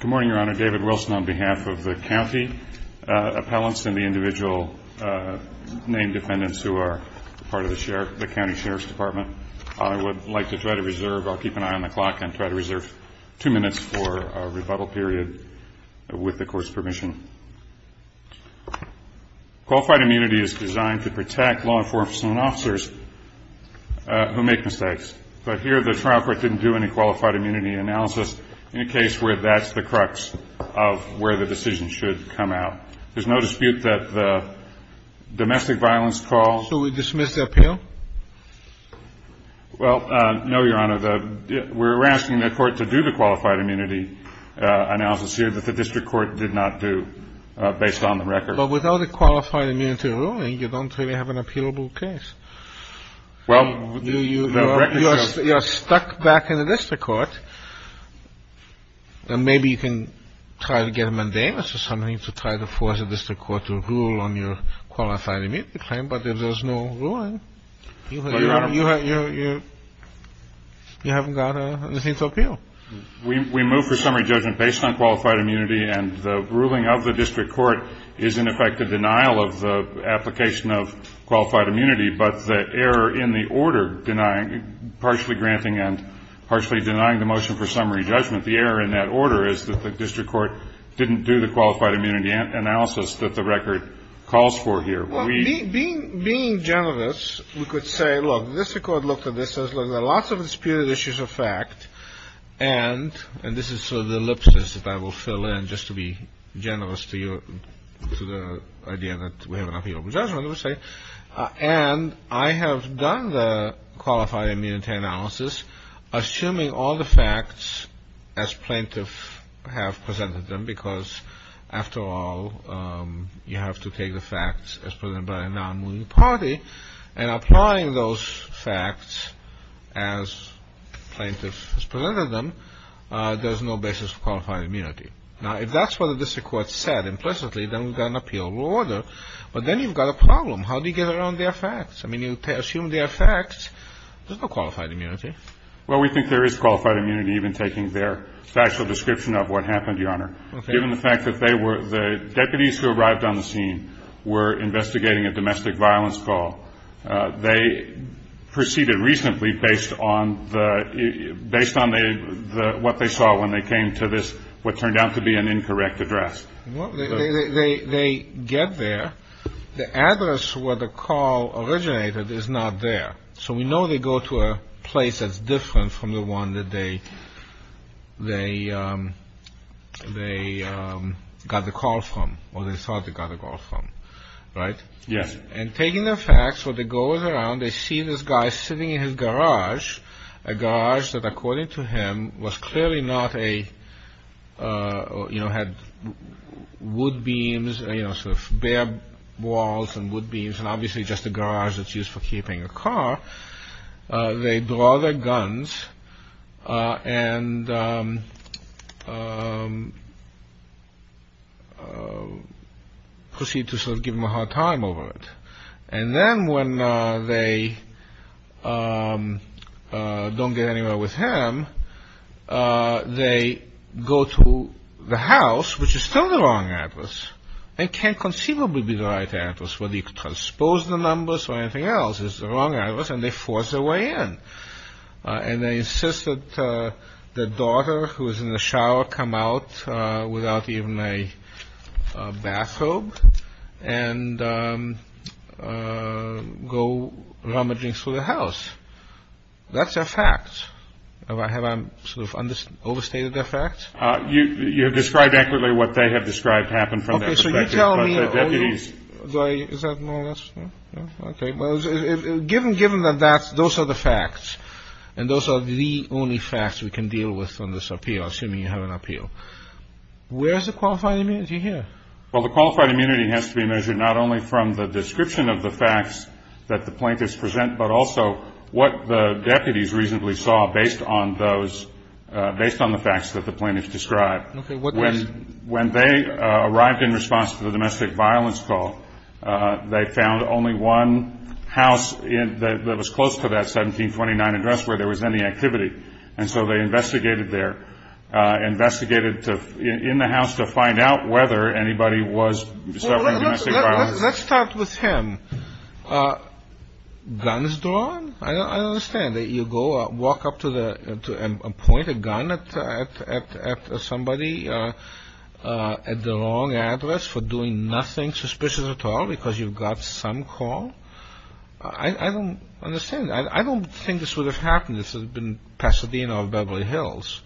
Good morning, Your Honor. David Wilson on behalf of the County Appellants and the individual named defendants who are part of the County Sheriff's Department. I would like to try to reserve, I'll keep an eye on the clock, and try to reserve two minutes for a rebuttal period with the Court's permission. Qualified immunity is designed to protect law enforcement officers who make mistakes. But here, the trial court didn't do any qualified immunity analysis in a case where that's the crux of where the decision should come out. There's no dispute that the domestic violence call... So we dismiss the appeal? Well, no, Your Honor. We're asking the court to do the qualified immunity analysis here that the district court did not do based on the record. But without a qualified immunity ruling, you don't really have an appealable case. You're stuck back in the district court. Maybe you can try to get a mundane or something to try to force the district court to rule on your qualified immunity claim. But if there's no ruling, you haven't got anything to appeal. We move for summary judgment based on qualified immunity. And the ruling of the district court is in effect a denial of the application of qualified immunity. But the error in the order denying, partially granting and partially denying the motion for summary judgment, the error in that order is that the district court didn't do the qualified immunity analysis that the record calls for here. Well, being generous, we could say, look, the district court looked at this and says, look, there are lots of disputed issues of fact. And this is sort of the ellipsis that I will fill in just to be generous to you, to the idea that we have an appealable judgment, and I have done the qualified immunity analysis, assuming all the facts as plaintiff have presented them, because after all, you have to take the facts as presented by a non-moving party. And applying those facts as plaintiff has presented them, there's no basis for qualified immunity. Now, if that's what the district court said implicitly, then we've got an appealable order. But then you've got a problem. How do you get around their facts? I mean, you assume their facts. There's no qualified immunity. Well, we think there is qualified immunity even taking their factual description of what happened, Your Honor. Okay. Given the fact that they were the deputies who arrived on the scene were investigating a domestic violence call. They proceeded reasonably based on what they saw when they came to this, what turned out to be an incorrect address. They get there. The address where the call originated is not there. So we know they go to a place that's different from the one that they got the call from, or they thought they got the call from. Right? Yes. And taking their facts, what they go around, they see this guy sitting in his garage, a garage that, according to him, was clearly not a, you know, had wood beams, you know, sort of bare walls and wood beams, and obviously just a garage that's used for keeping a car. They draw their guns and proceed to sort of give him a hard time over it. And then when they don't get anywhere with him, they go to the house, which is still the wrong address. It can't conceivably be the right address. Whether you transpose the numbers or anything else, it's the wrong address, and they force their way in. And they insist that the daughter who is in the shower come out without even a bathrobe and go rummaging through the house. That's a fact. Have I sort of overstated their facts? You have described accurately what they have described happened from their perspective. Well, the qualified immunity has to be measured not only from the description of the facts that the plaintiffs present, but also what the deputies reasonably saw based on those, based on the facts that the plaintiffs described. When they arrived in response to the plaintiffs, they saw that the plaintiffs did not have a qualified immunity. They found only one house that was close to that 1729 address where there was any activity. And so they investigated there, investigated in the house to find out whether anybody was suffering domestic violence. Let's start with him. Guns drawn? I don't understand. You go walk up to a point, a gun at somebody at the wrong address for doing nothing suspicious at all because you've got some call? I don't understand. I don't think this would have happened if this had been Pasadena or Beverly Hills.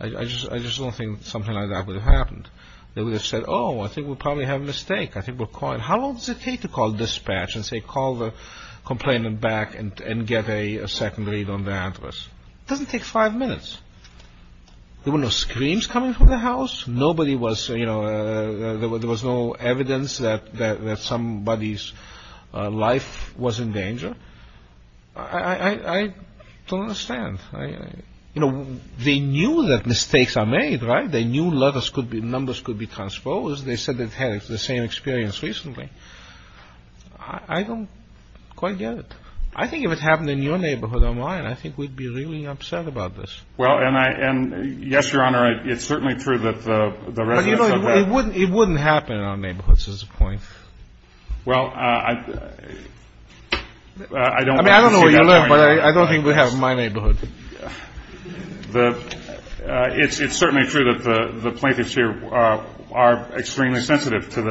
I just don't think something like that would have happened. They would have said, oh, I think we probably have a mistake. I think we're calling. How long does it take to call dispatch and say call the complainant back and get a second read on the address? It doesn't take five minutes. There were no screams coming from the house. Nobody was, you know, there was no evidence that somebody's life was in danger. I don't understand. You know, they knew that mistakes are made, right? They knew letters could be, numbers could be transposed. They said they've had the same experience recently. I don't quite get it. I think if it happened in your neighborhood or mine, I think we'd be really upset about this. Well, and yes, Your Honor, it's certainly true that the residents of that. But it wouldn't happen in our neighborhoods is the point. Well, I don't. I mean, I don't know where you live, but I don't think we have it in my neighborhood. It's certainly true that the plaintiffs here are extremely sensitive to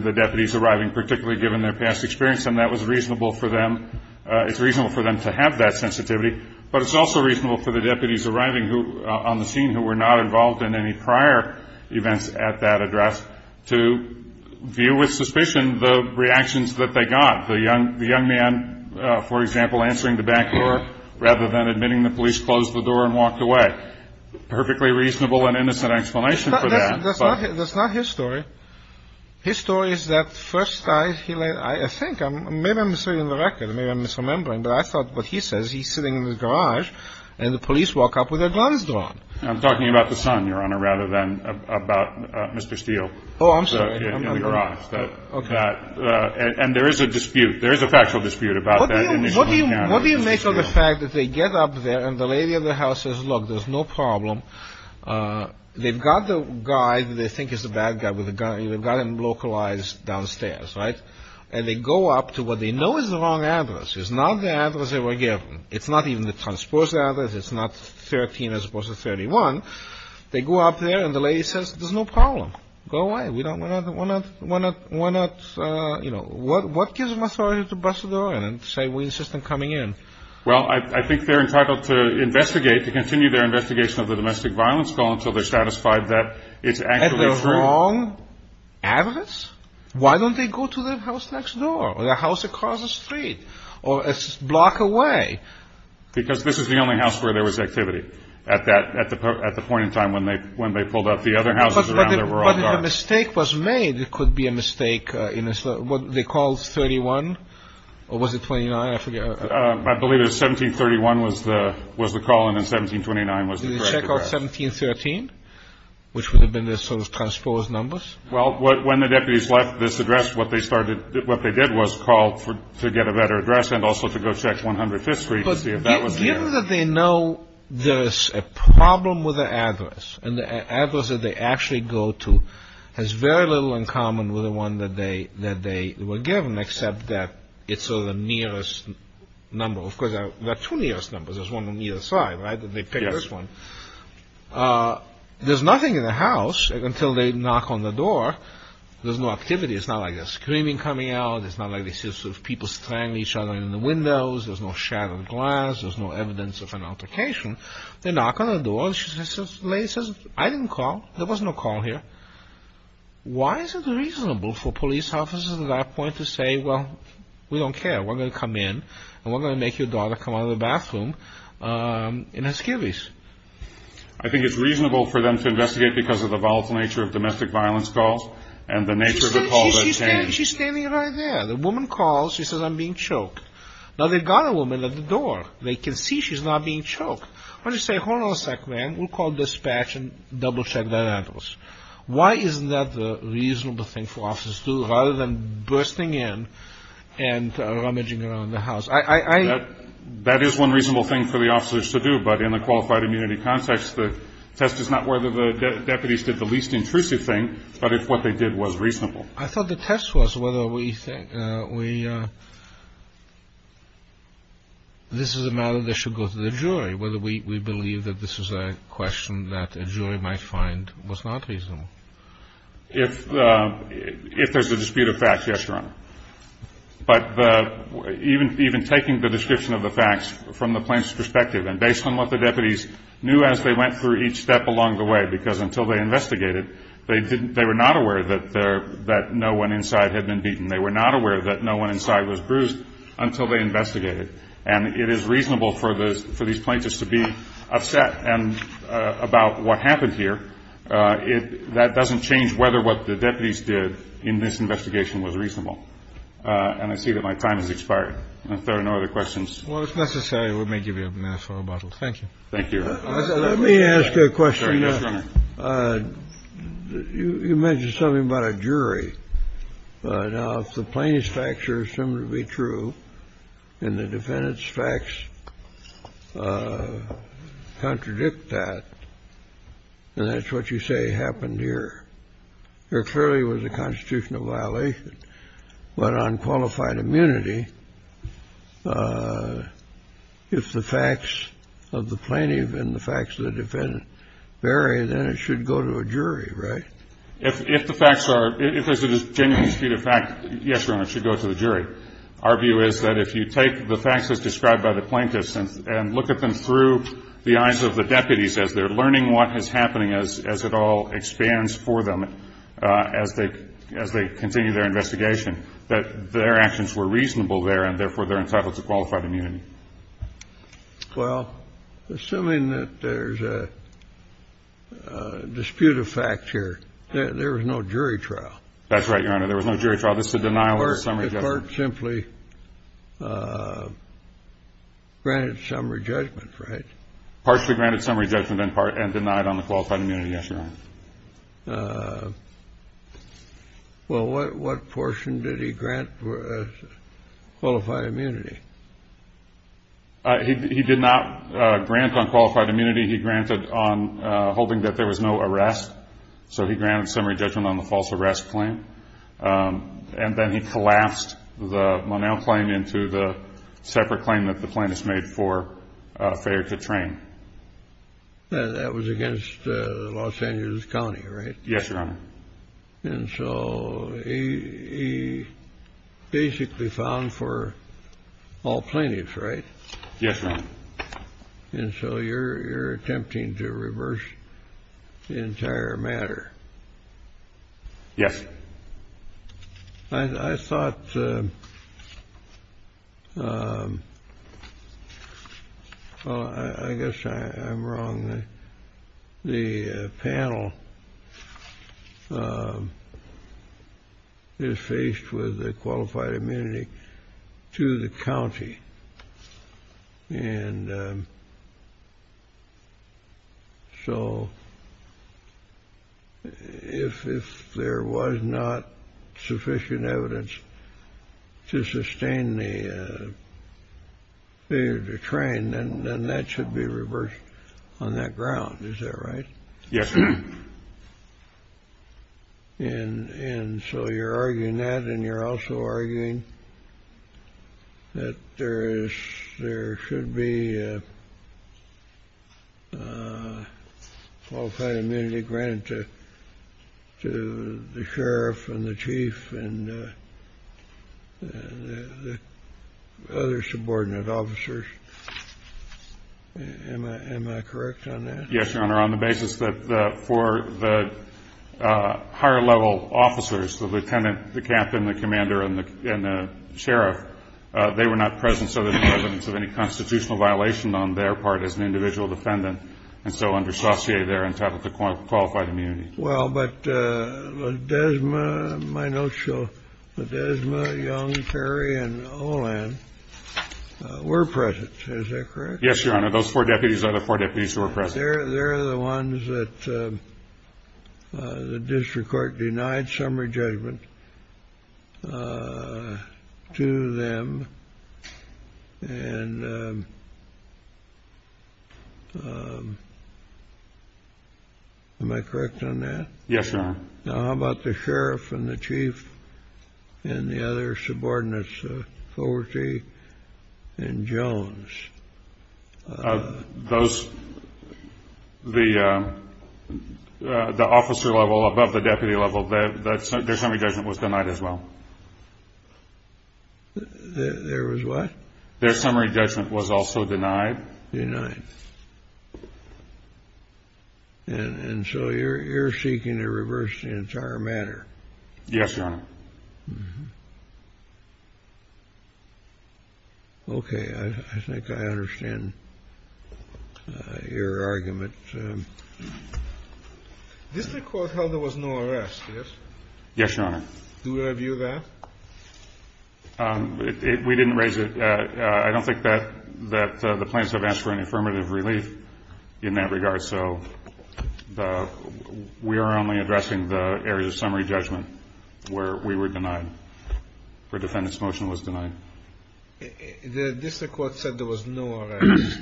the deputies arriving, particularly given their past experience, and that was reasonable for them. It's reasonable for them to have that sensitivity. But it's also reasonable for the deputies arriving on the scene who were not involved in any prior events at that address to view with suspicion the reactions that they got. The young man, for example, answering the back door rather than admitting the police closed the door and walked away. Perfectly reasonable and innocent explanation for that. That's not his story. His story is that first I think maybe I'm misreading the record. Maybe I'm misremembering. But I thought what he says, he's sitting in the garage and the police walk up with their guns drawn. I'm talking about the son, Your Honor, rather than about Mr. Steele. Oh, I'm sorry. In the garage. And there is a dispute. There is a factual dispute about that. What do you make of the fact that they get up there and the lady of the house says, look, there's no problem. They've got the guy that they think is the bad guy with a gun. They've got him localized downstairs. Right. And they go up to what they know is the wrong address. It's not the address they were given. It's not even the transposed address. It's not 13 as opposed to 31. They go up there and the lady says, there's no problem. Go away. Why not, you know, what gives them authority to bust a door in and say we insist on coming in? Well, I think they're entitled to investigate, to continue their investigation of the domestic violence call until they're satisfied that it's actually true. At the wrong address? Why don't they go to the house next door or the house across the street or a block away? Because this is the only house where there was activity at the point in time when they pulled up. But if a mistake was made, it could be a mistake. They called 31 or was it 29? I believe it was 1731 was the call and then 1729 was the correct address. Did they check out 1713, which would have been the sort of transposed numbers? Well, when the deputies left this address, what they did was call to get a better address and also to go check 105th Street to see if that was the address. Given that they know there's a problem with the address and the address that they actually go to has very little in common with the one that they were given, except that it's sort of the nearest number. Of course, there are two nearest numbers. There's one on either side, right? They pick this one. There's nothing in the house until they knock on the door. There's no activity. It's not like there's screaming coming out. It's not like they see people strangling each other in the windows. There's no shattered glass. There's no evidence of an altercation. They knock on the door. The lady says, I didn't call. There was no call here. Why is it reasonable for police officers at that point to say, well, we don't care. We're going to come in and we're going to make your daughter come out of the bathroom in her skivvies? I think it's reasonable for them to investigate because of the volatile nature of domestic violence calls and the nature of the call that it changed. She's standing right there. The woman calls. She says, I'm being choked. Now, they've got a woman at the door. They can see she's not being choked. Why don't you say, hold on a sec, man. We'll call dispatch and double-check that address. Why isn't that the reasonable thing for officers to do rather than bursting in and rummaging around the house? That is one reasonable thing for the officers to do, but in the qualified immunity context, the test is not whether the deputies did the least intrusive thing, but if what they did was reasonable. I thought the test was whether this is a matter that should go to the jury, whether we believe that this is a question that a jury might find was not reasonable. If there's a dispute of fact, yes, Your Honor. But even taking the description of the facts from the plaintiff's perspective and based on what the deputies knew as they went through each step along the way, because until they investigated, they were not aware that no one inside had been beaten. They were not aware that no one inside was bruised until they investigated. And it is reasonable for these plaintiffs to be upset about what happened here. That doesn't change whether what the deputies did in this investigation was reasonable. And I see that my time has expired. If there are no other questions. Well, if necessary, let me give you a mask or a bottle. Thank you. Thank you. Let me ask you a question. You mentioned something about a jury. Now, if the plaintiff's facts are assumed to be true and the defendant's facts contradict that, and that's what you say happened here, there clearly was a constitutional violation. But on qualified immunity, if the facts of the plaintiff and the facts of the defendant vary, then it should go to a jury, right? If the facts are — if there's a genuine dispute of fact, yes, Your Honor, it should go to the jury. Our view is that if you take the facts as described by the plaintiffs and look at them through the eyes of the deputies as they're learning what is happening, as it all expands for them, as they continue their investigation, that their actions were reasonable there and, therefore, they're entitled to qualified immunity. Well, assuming that there's a dispute of fact here, there was no jury trial. That's right, Your Honor. There was no jury trial. This is a denial of the summary judgment. If part simply granted summary judgment, right? Partially granted summary judgment and denied on the qualified immunity, yes, Your Honor. Well, what portion did he grant for qualified immunity? He did not grant on qualified immunity. He granted on holding that there was no arrest. So he granted summary judgment on the false arrest claim. And then he collapsed the Monell claim into the separate claim that the plaintiffs made for Fayer to train. That was against Los Angeles County, right? Yes, Your Honor. And so he basically found for all plaintiffs, right? Yes, Your Honor. And so you're attempting to reverse the entire matter. Yes. I thought, well, I guess I'm wrong. The panel is faced with a qualified immunity to the county. And so if there was not sufficient evidence to sustain the train, then that should be reversed on that ground. Is that right? Yes. And so you're arguing that and you're also arguing that there should be a qualified immunity granted to the sheriff and the chief and the other subordinate officers. Am I correct on that? Yes, Your Honor, on the basis that for the higher level officers, the lieutenant, the captain, the commander, and the sheriff, they were not present. So there's no evidence of any constitutional violation on their part as an individual defendant. And so under Saussure, they're entitled to qualified immunity. Well, but Ledesma, Young, Terry, and Olan were present. Is that correct? Yes, Your Honor. Those four deputies are the four deputies who were present. They're the ones that the district court denied summary judgment to them. And am I correct on that? Yes, Your Honor. Now, how about the sheriff and the chief and the other subordinates, Covertee and Jones? Those, the officer level above the deputy level, their summary judgment was denied as well. Their was what? Their summary judgment was also denied. Denied. And so you're seeking to reverse the entire matter. Yes, Your Honor. Okay. I think I understand your argument. District court held there was no arrest, yes? Yes, Your Honor. Do we review that? We didn't raise it. I don't think that the plaintiffs have asked for an affirmative relief in that regard. So we are only addressing the areas of summary judgment where we were denied, where defendant's motion was denied. The district court said there was no arrest.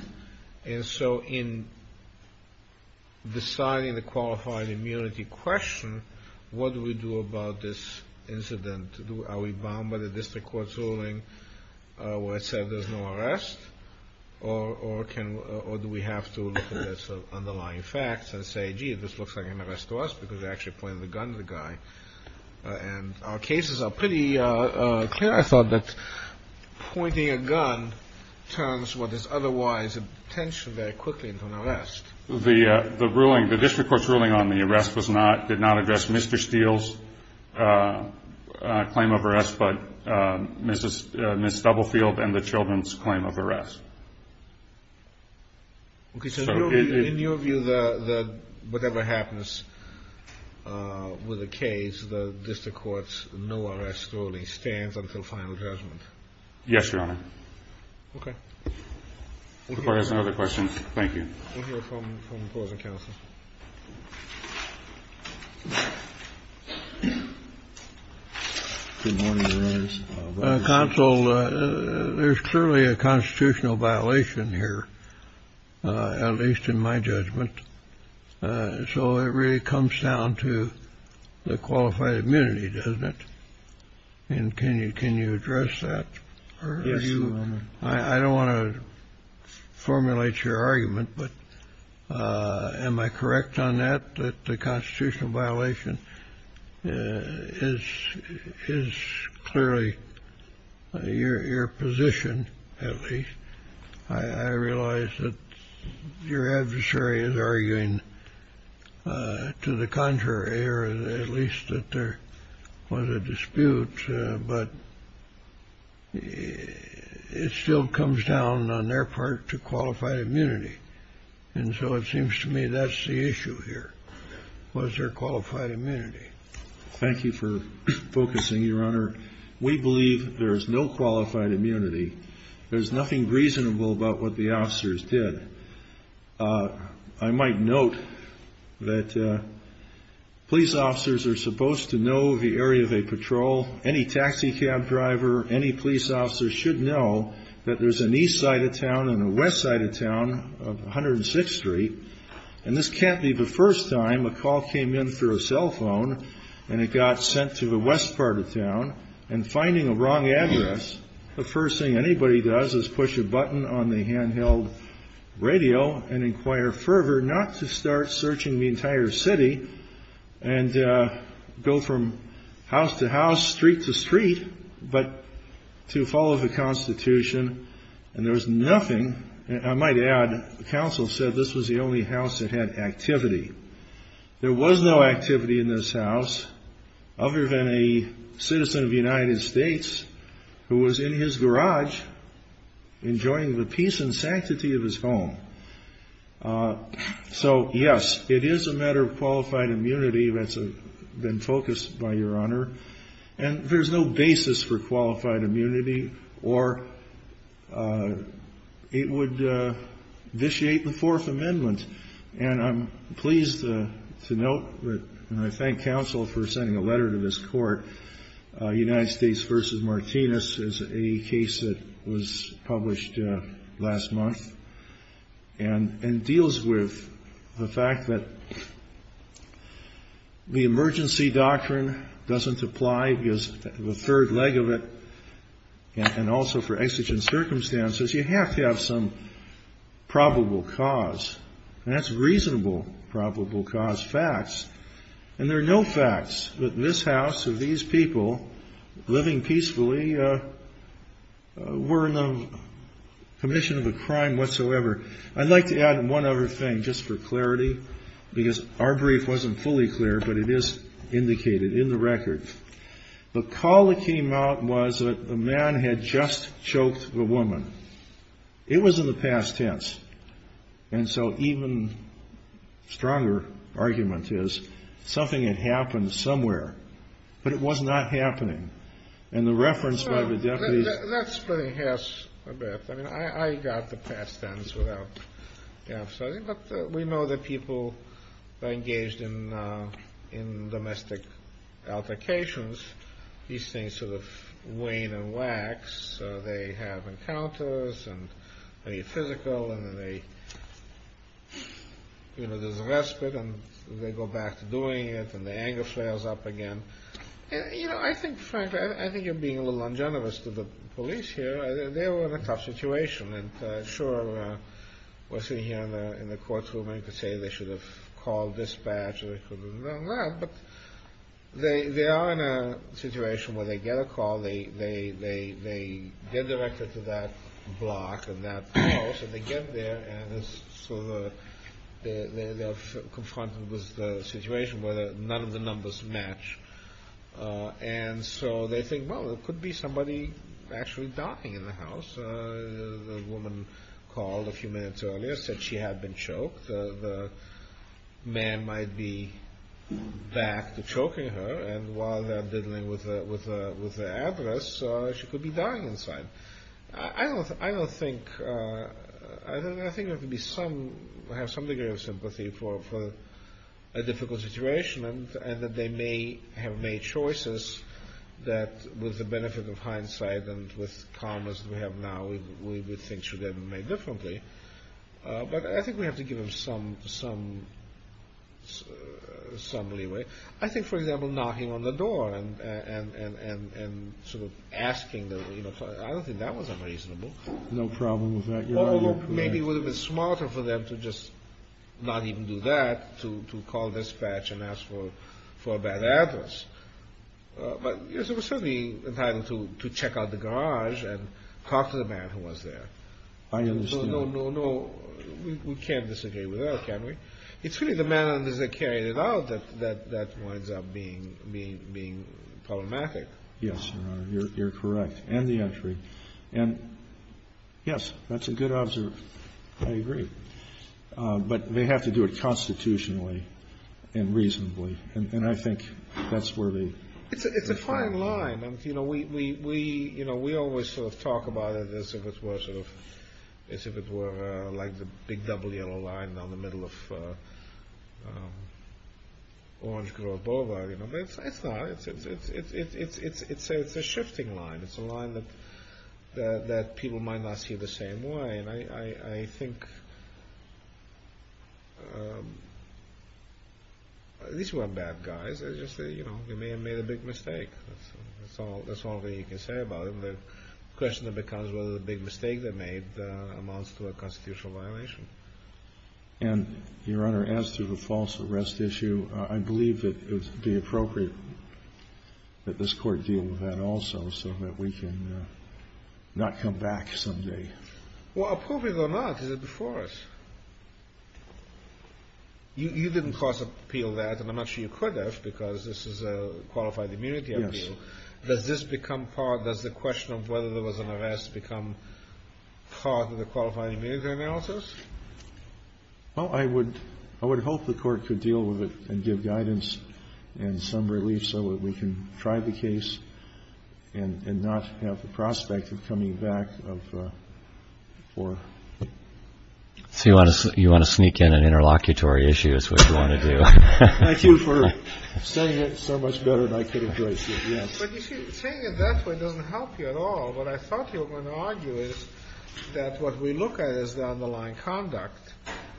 And so in deciding the qualified immunity question, what do we do about this incident? Are we bound by the district court's ruling where it said there's no arrest? Or do we have to look at the underlying facts and say, gee, this looks like an arrest to us, because they actually pointed the gun to the guy. And our cases are pretty clear, I thought, that pointing a gun turns what is otherwise a detention very quickly into an arrest. The district court's ruling on the arrest did not address Mr. Steele's claim of arrest, but Ms. Stubblefield and the children's claim of arrest. Okay. So in your view, whatever happens with the case, the district court's no-arrest ruling stands until final judgment? Yes, Your Honor. Okay. If there are no other questions, thank you. We'll hear from the closing counsel. Good morning, Your Honors. Counsel, there's clearly a constitutional violation here, at least in my judgment. So it really comes down to the qualified immunity, doesn't it? And can you address that? Yes, Your Honor. I don't want to formulate your argument, but am I correct on that, that the constitutional violation is clearly your position, at least? I realize that your adversary is arguing to the contrary, or at least that there was a dispute, but it still comes down, on their part, to qualified immunity. And so it seems to me that's the issue here, was there qualified immunity. Thank you for focusing, Your Honor. We believe there is no qualified immunity. There's nothing reasonable about what the officers did. I might note that police officers are supposed to know the area they patrol. Any taxi cab driver, any police officer, should know that there's an east side of town and a west side of town, 106th Street. And this can't be the first time a call came in through a cell phone, and it got sent to the west part of town, and finding a wrong address, the first thing anybody does is push a button on the handheld radio and inquire further, not to start searching the entire city, and go from house to house, street to street, but to follow the Constitution. And there was nothing, and I might add, the counsel said this was the only house that had activity. There was no activity in this house, other than a citizen of the United States, who was in his garage, enjoying the peace and sanctity of his home. So, yes, it is a matter of qualified immunity that's been focused by Your Honor, and there's no basis for qualified immunity, or it would vitiate the Fourth Amendment. And I'm pleased to note, and I thank counsel for sending a letter to this court, United States v. Martinez is a case that was published last month, and deals with the fact that the emergency doctrine doesn't apply, because the third leg of it, and also for exigent circumstances, you have to have some probable cause, and that's reasonable probable cause facts. And there are no facts that this house, or these people, living peacefully, were in the commission of a crime whatsoever. I'd like to add one other thing, just for clarity, because our brief wasn't fully clear, but it is indicated in the record. The call that came out was that a man had just choked a woman. It was in the past tense, and so even stronger argument is, something had happened somewhere, but it was not happening. And the reference by the deputies... That's pretty harsh, I bet. I mean, I got the past tense without doubt, but we know that people engaged in domestic altercations, these things sort of wane and wax, so they have encounters, and they're physical, and then there's a respite, and they go back to doing it, and the anger flares up again. You know, I think, frankly, I think you're being a little ungenerous to the police here. They were in a tough situation, and sure, we're sitting here in the court room, and you could say they should have called dispatch, but they are in a situation where they get a call, they get directed to that block and that house, and they get there, and they're confronted with a situation where none of the numbers match, and so they think, well, there could be somebody actually dying in the house. The woman called a few minutes earlier, said she had been choked. She thought that the man might be back to choking her, and while they're diddling with the address, she could be dying inside. I don't think, I think there could be some, have some degree of sympathy for a difficult situation, and that they may have made choices that, with the benefit of hindsight and with calm as we have now, we would think should have been made differently, but I think we have to give them some leeway. I think, for example, knocking on the door and sort of asking, I don't think that was unreasonable. No problem with that. Although maybe it would have been smarter for them to just not even do that, to call dispatch and ask for a bad address, but it was certainly entitled to check out the garage and talk to the man who was there. I understand. No, no, no. We can't disagree with that, can we? It's really the manner in which they carried it out that winds up being problematic. Yes, Your Honor. You're correct. And the entry. And, yes, that's a good observation. I agree. But they have to do it constitutionally and reasonably, and I think that's where the... It's a fine line. We always sort of talk about it as if it were like the big double yellow line down the middle of Orange Grove Boulevard. It's not. It's a shifting line. It's a line that people might not see the same way, and I think these were bad guys. They may have made a big mistake. That's all that you can say about it. The question becomes whether the big mistake they made amounts to a constitutional violation. And, Your Honor, as to the false arrest issue, I believe that it would be appropriate that this Court deal with that also so that we can not come back someday. Well, appropriate or not, it's before us. You didn't cross-appeal that, and I'm not sure you could have, because this is a qualified immunity appeal. Does this become part, does the question of whether there was an arrest become part of the qualified immunity analysis? Well, I would hope the Court could deal with it and give guidance and some relief so that we can try the case and not have the prospect of coming back for... So you want to sneak in an interlocutory issue is what you want to do. Thank you for saying it so much better than I could embrace it. Saying it that way doesn't help you at all. What I thought you were going to argue is that what we look at is the underlying conduct,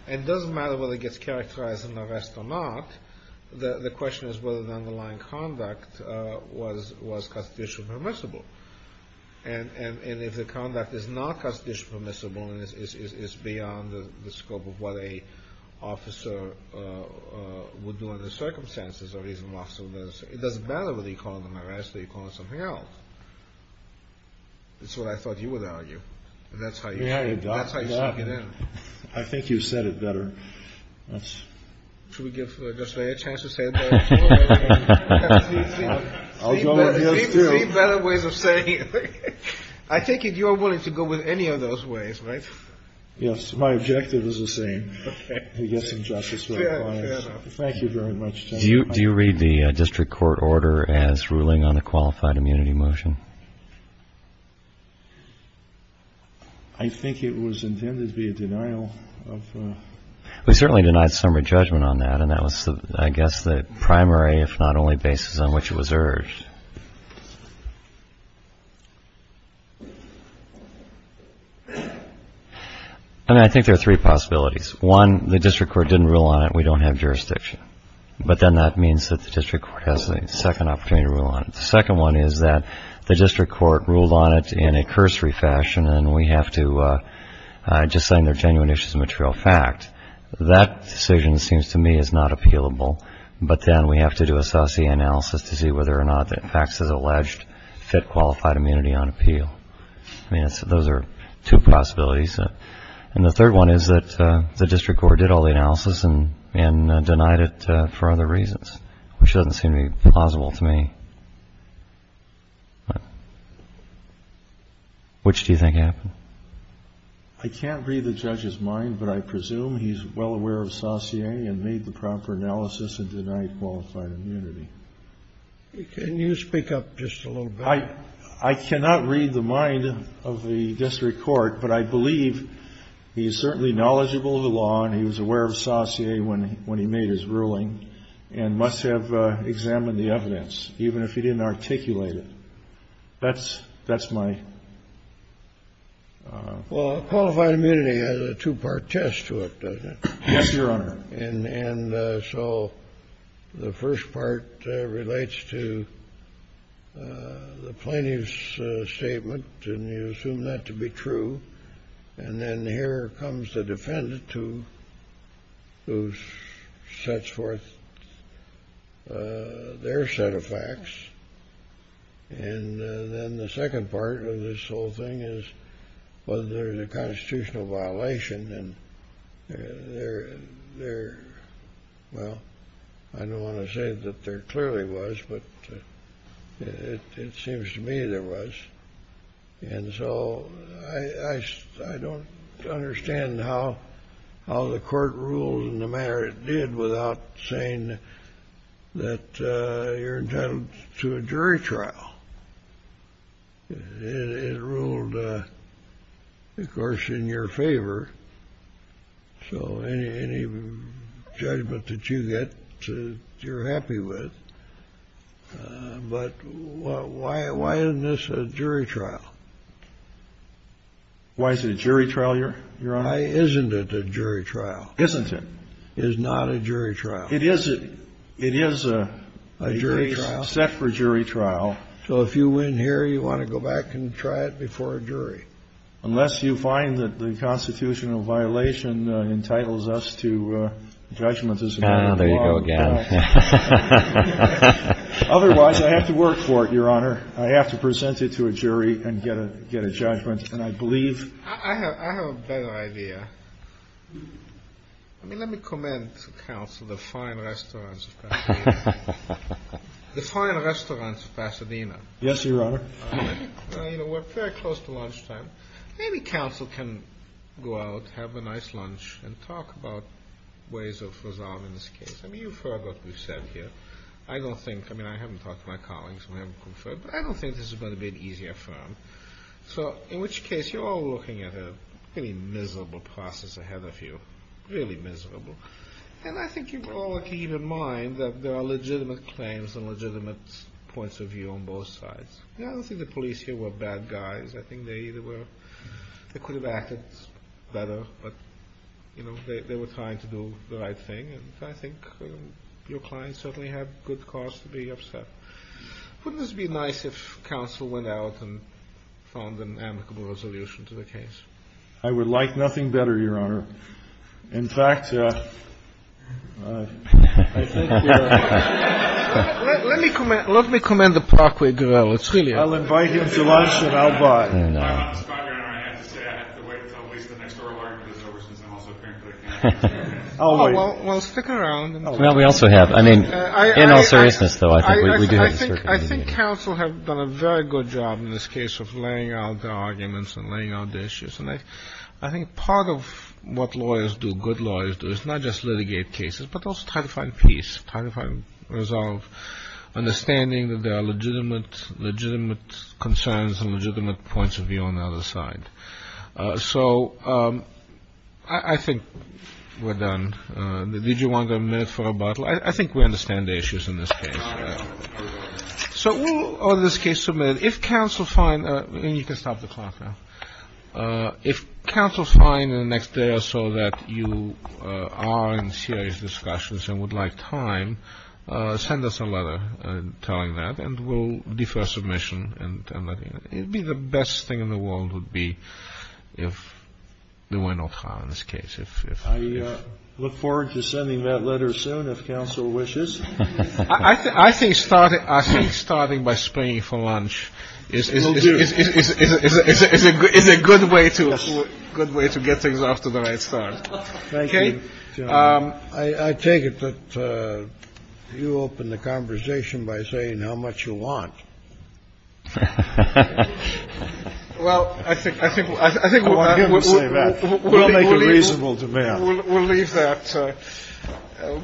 and it doesn't matter whether it gets characterized in the arrest or not. The question is whether the underlying conduct was constitutionally permissible. And if the conduct is not constitutionally permissible and is beyond the scope of what an officer would do under the circumstances, it doesn't matter whether you call it an arrest or you call it something else. That's what I thought you would argue, and that's how you sneak it in. I think you said it better. Should we give Judge Lea a chance to say it better? I'll go with yes, too. See better ways of saying it. I take it you're willing to go with any of those ways, right? Yes, my objective is the same. Okay. I guess I'm just as well advised. Fair enough. Thank you very much. Do you read the district court order as ruling on a qualified immunity motion? I think it was intended to be a denial of... We certainly denied summary judgment on that, and that was, I guess, the primary, if not only, basis on which it was urged. I mean, I think there are three possibilities. One, the district court didn't rule on it and we don't have jurisdiction. But then that means that the district court has a second opportunity to rule on it. The second one is that the district court ruled on it in a cursory fashion and we have to just say they're genuine issues of material fact. That decision, it seems to me, is not appealable. But then we have to do a SASE analysis to see whether or not the facts as alleged fit qualified immunity on appeal. I mean, those are two possibilities. And the third one is that the district court did all the analysis and denied it for other reasons, which doesn't seem to be plausible to me. Which do you think happened? I can't read the judge's mind, but I presume he's well aware of SASE and made the proper analysis and denied qualified immunity. Can you speak up just a little bit? I cannot read the mind of the district court, but I believe he's certainly knowledgeable of the law and he was aware of SASE when he made his ruling and must have examined the evidence, even if he didn't articulate it. That's my... Well, qualified immunity has a two-part test to it, doesn't it? Yes, Your Honor. And so the first part relates to the plaintiff's statement, and you assume that to be true. And then here comes the defendant who sets forth their set of facts. And then the second part of this whole thing is whether there's a constitutional violation. And there... Well, I don't want to say that there clearly was, but it seems to me there was. And so I don't understand how the court ruled in the manner it did without saying that you're entitled to a jury trial. It ruled, of course, in your favor. So any judgment that you get, you're happy with. But why isn't this a jury trial? Why is it a jury trial, Your Honor? Why isn't it a jury trial? Isn't it? It is not a jury trial. It is a jury trial. It is set for jury trial. So if you win here, you want to go back and try it before a jury. Otherwise, I have to work for it, Your Honor. I have to present it to a jury and get a judgment. And I believe... I have a better idea. I mean, let me commend to counsel the fine restaurants of Pasadena. The fine restaurants of Pasadena. Yes, Your Honor. We're very close to lunchtime. Maybe counsel can go out, have a nice lunch, and talk about ways of resolving this case. I mean, you've heard what we've said here. I don't think... I mean, I haven't talked to my colleagues, and I haven't conferred, but I don't think this is going to be an easy affirm. So in which case, you're all looking at a really miserable process ahead of you. Really miserable. And I think you all can keep in mind that there are legitimate claims and legitimate points of view on both sides. I don't think the police here were bad guys. I think they either were... But, you know, they were trying to do the right thing, and I think your clients certainly have good cause to be upset. Wouldn't this be nice if counsel went out and found an amicable resolution to the case? I would like nothing better, Your Honor. In fact, I think... Let me commend the parkway gorilla. I'll invite him to lunch, and I'll buy... I have to wait until at least the next oral argument is over, since I'm also apparently... Well, stick around. Well, we also have... I mean, in all seriousness, though, I think we do have a... I think counsel have done a very good job in this case of laying out the arguments and laying out the issues. And I think part of what lawyers do, good lawyers do, is not just litigate cases, but also try to find peace, try to find a resolve, understanding that there are legitimate concerns and legitimate points of view on the other side. So I think we're done. Did you want a minute for rebuttal? I think we understand the issues in this case. So we'll, in this case, submit it. If counsel find... You can stop the clock now. If counsel find in the next day or so that you are in serious discussions and would like time, send us a letter telling that, and we'll defer submission. It'd be the best thing in the world would be if there were no trial in this case. I look forward to sending that letter soon, if counsel wishes. I think starting by springing for lunch is a good way to get things off to the right start. Thank you, gentlemen. I take it that you opened the conversation by saying how much you want. Well, I think... I want him to say that. We'll make a reasonable demand. We'll leave that.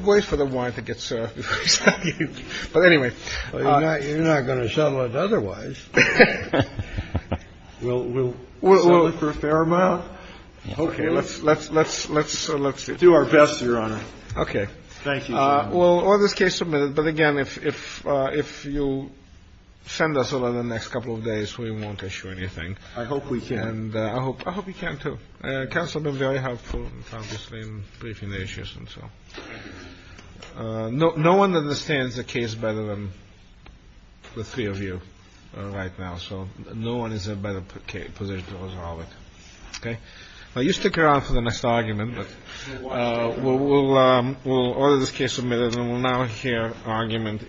Wait for the wine to get served. But anyway... You're not going to sell it otherwise. We'll sell it for a fair amount. Okay. Let's do our best, Your Honor. Okay. Thank you, Your Honor. Well, all this case submitted. But again, if you send us a letter in the next couple of days, we won't issue anything. I hope we can. I hope you can, too. Counsel has been very helpful, obviously, in briefing the issues. No one understands the case better than the three of you right now. So no one is in a better position to resolve it. Okay? You stick around for the next argument. We'll order this case submitted, and we'll now hear argument in court.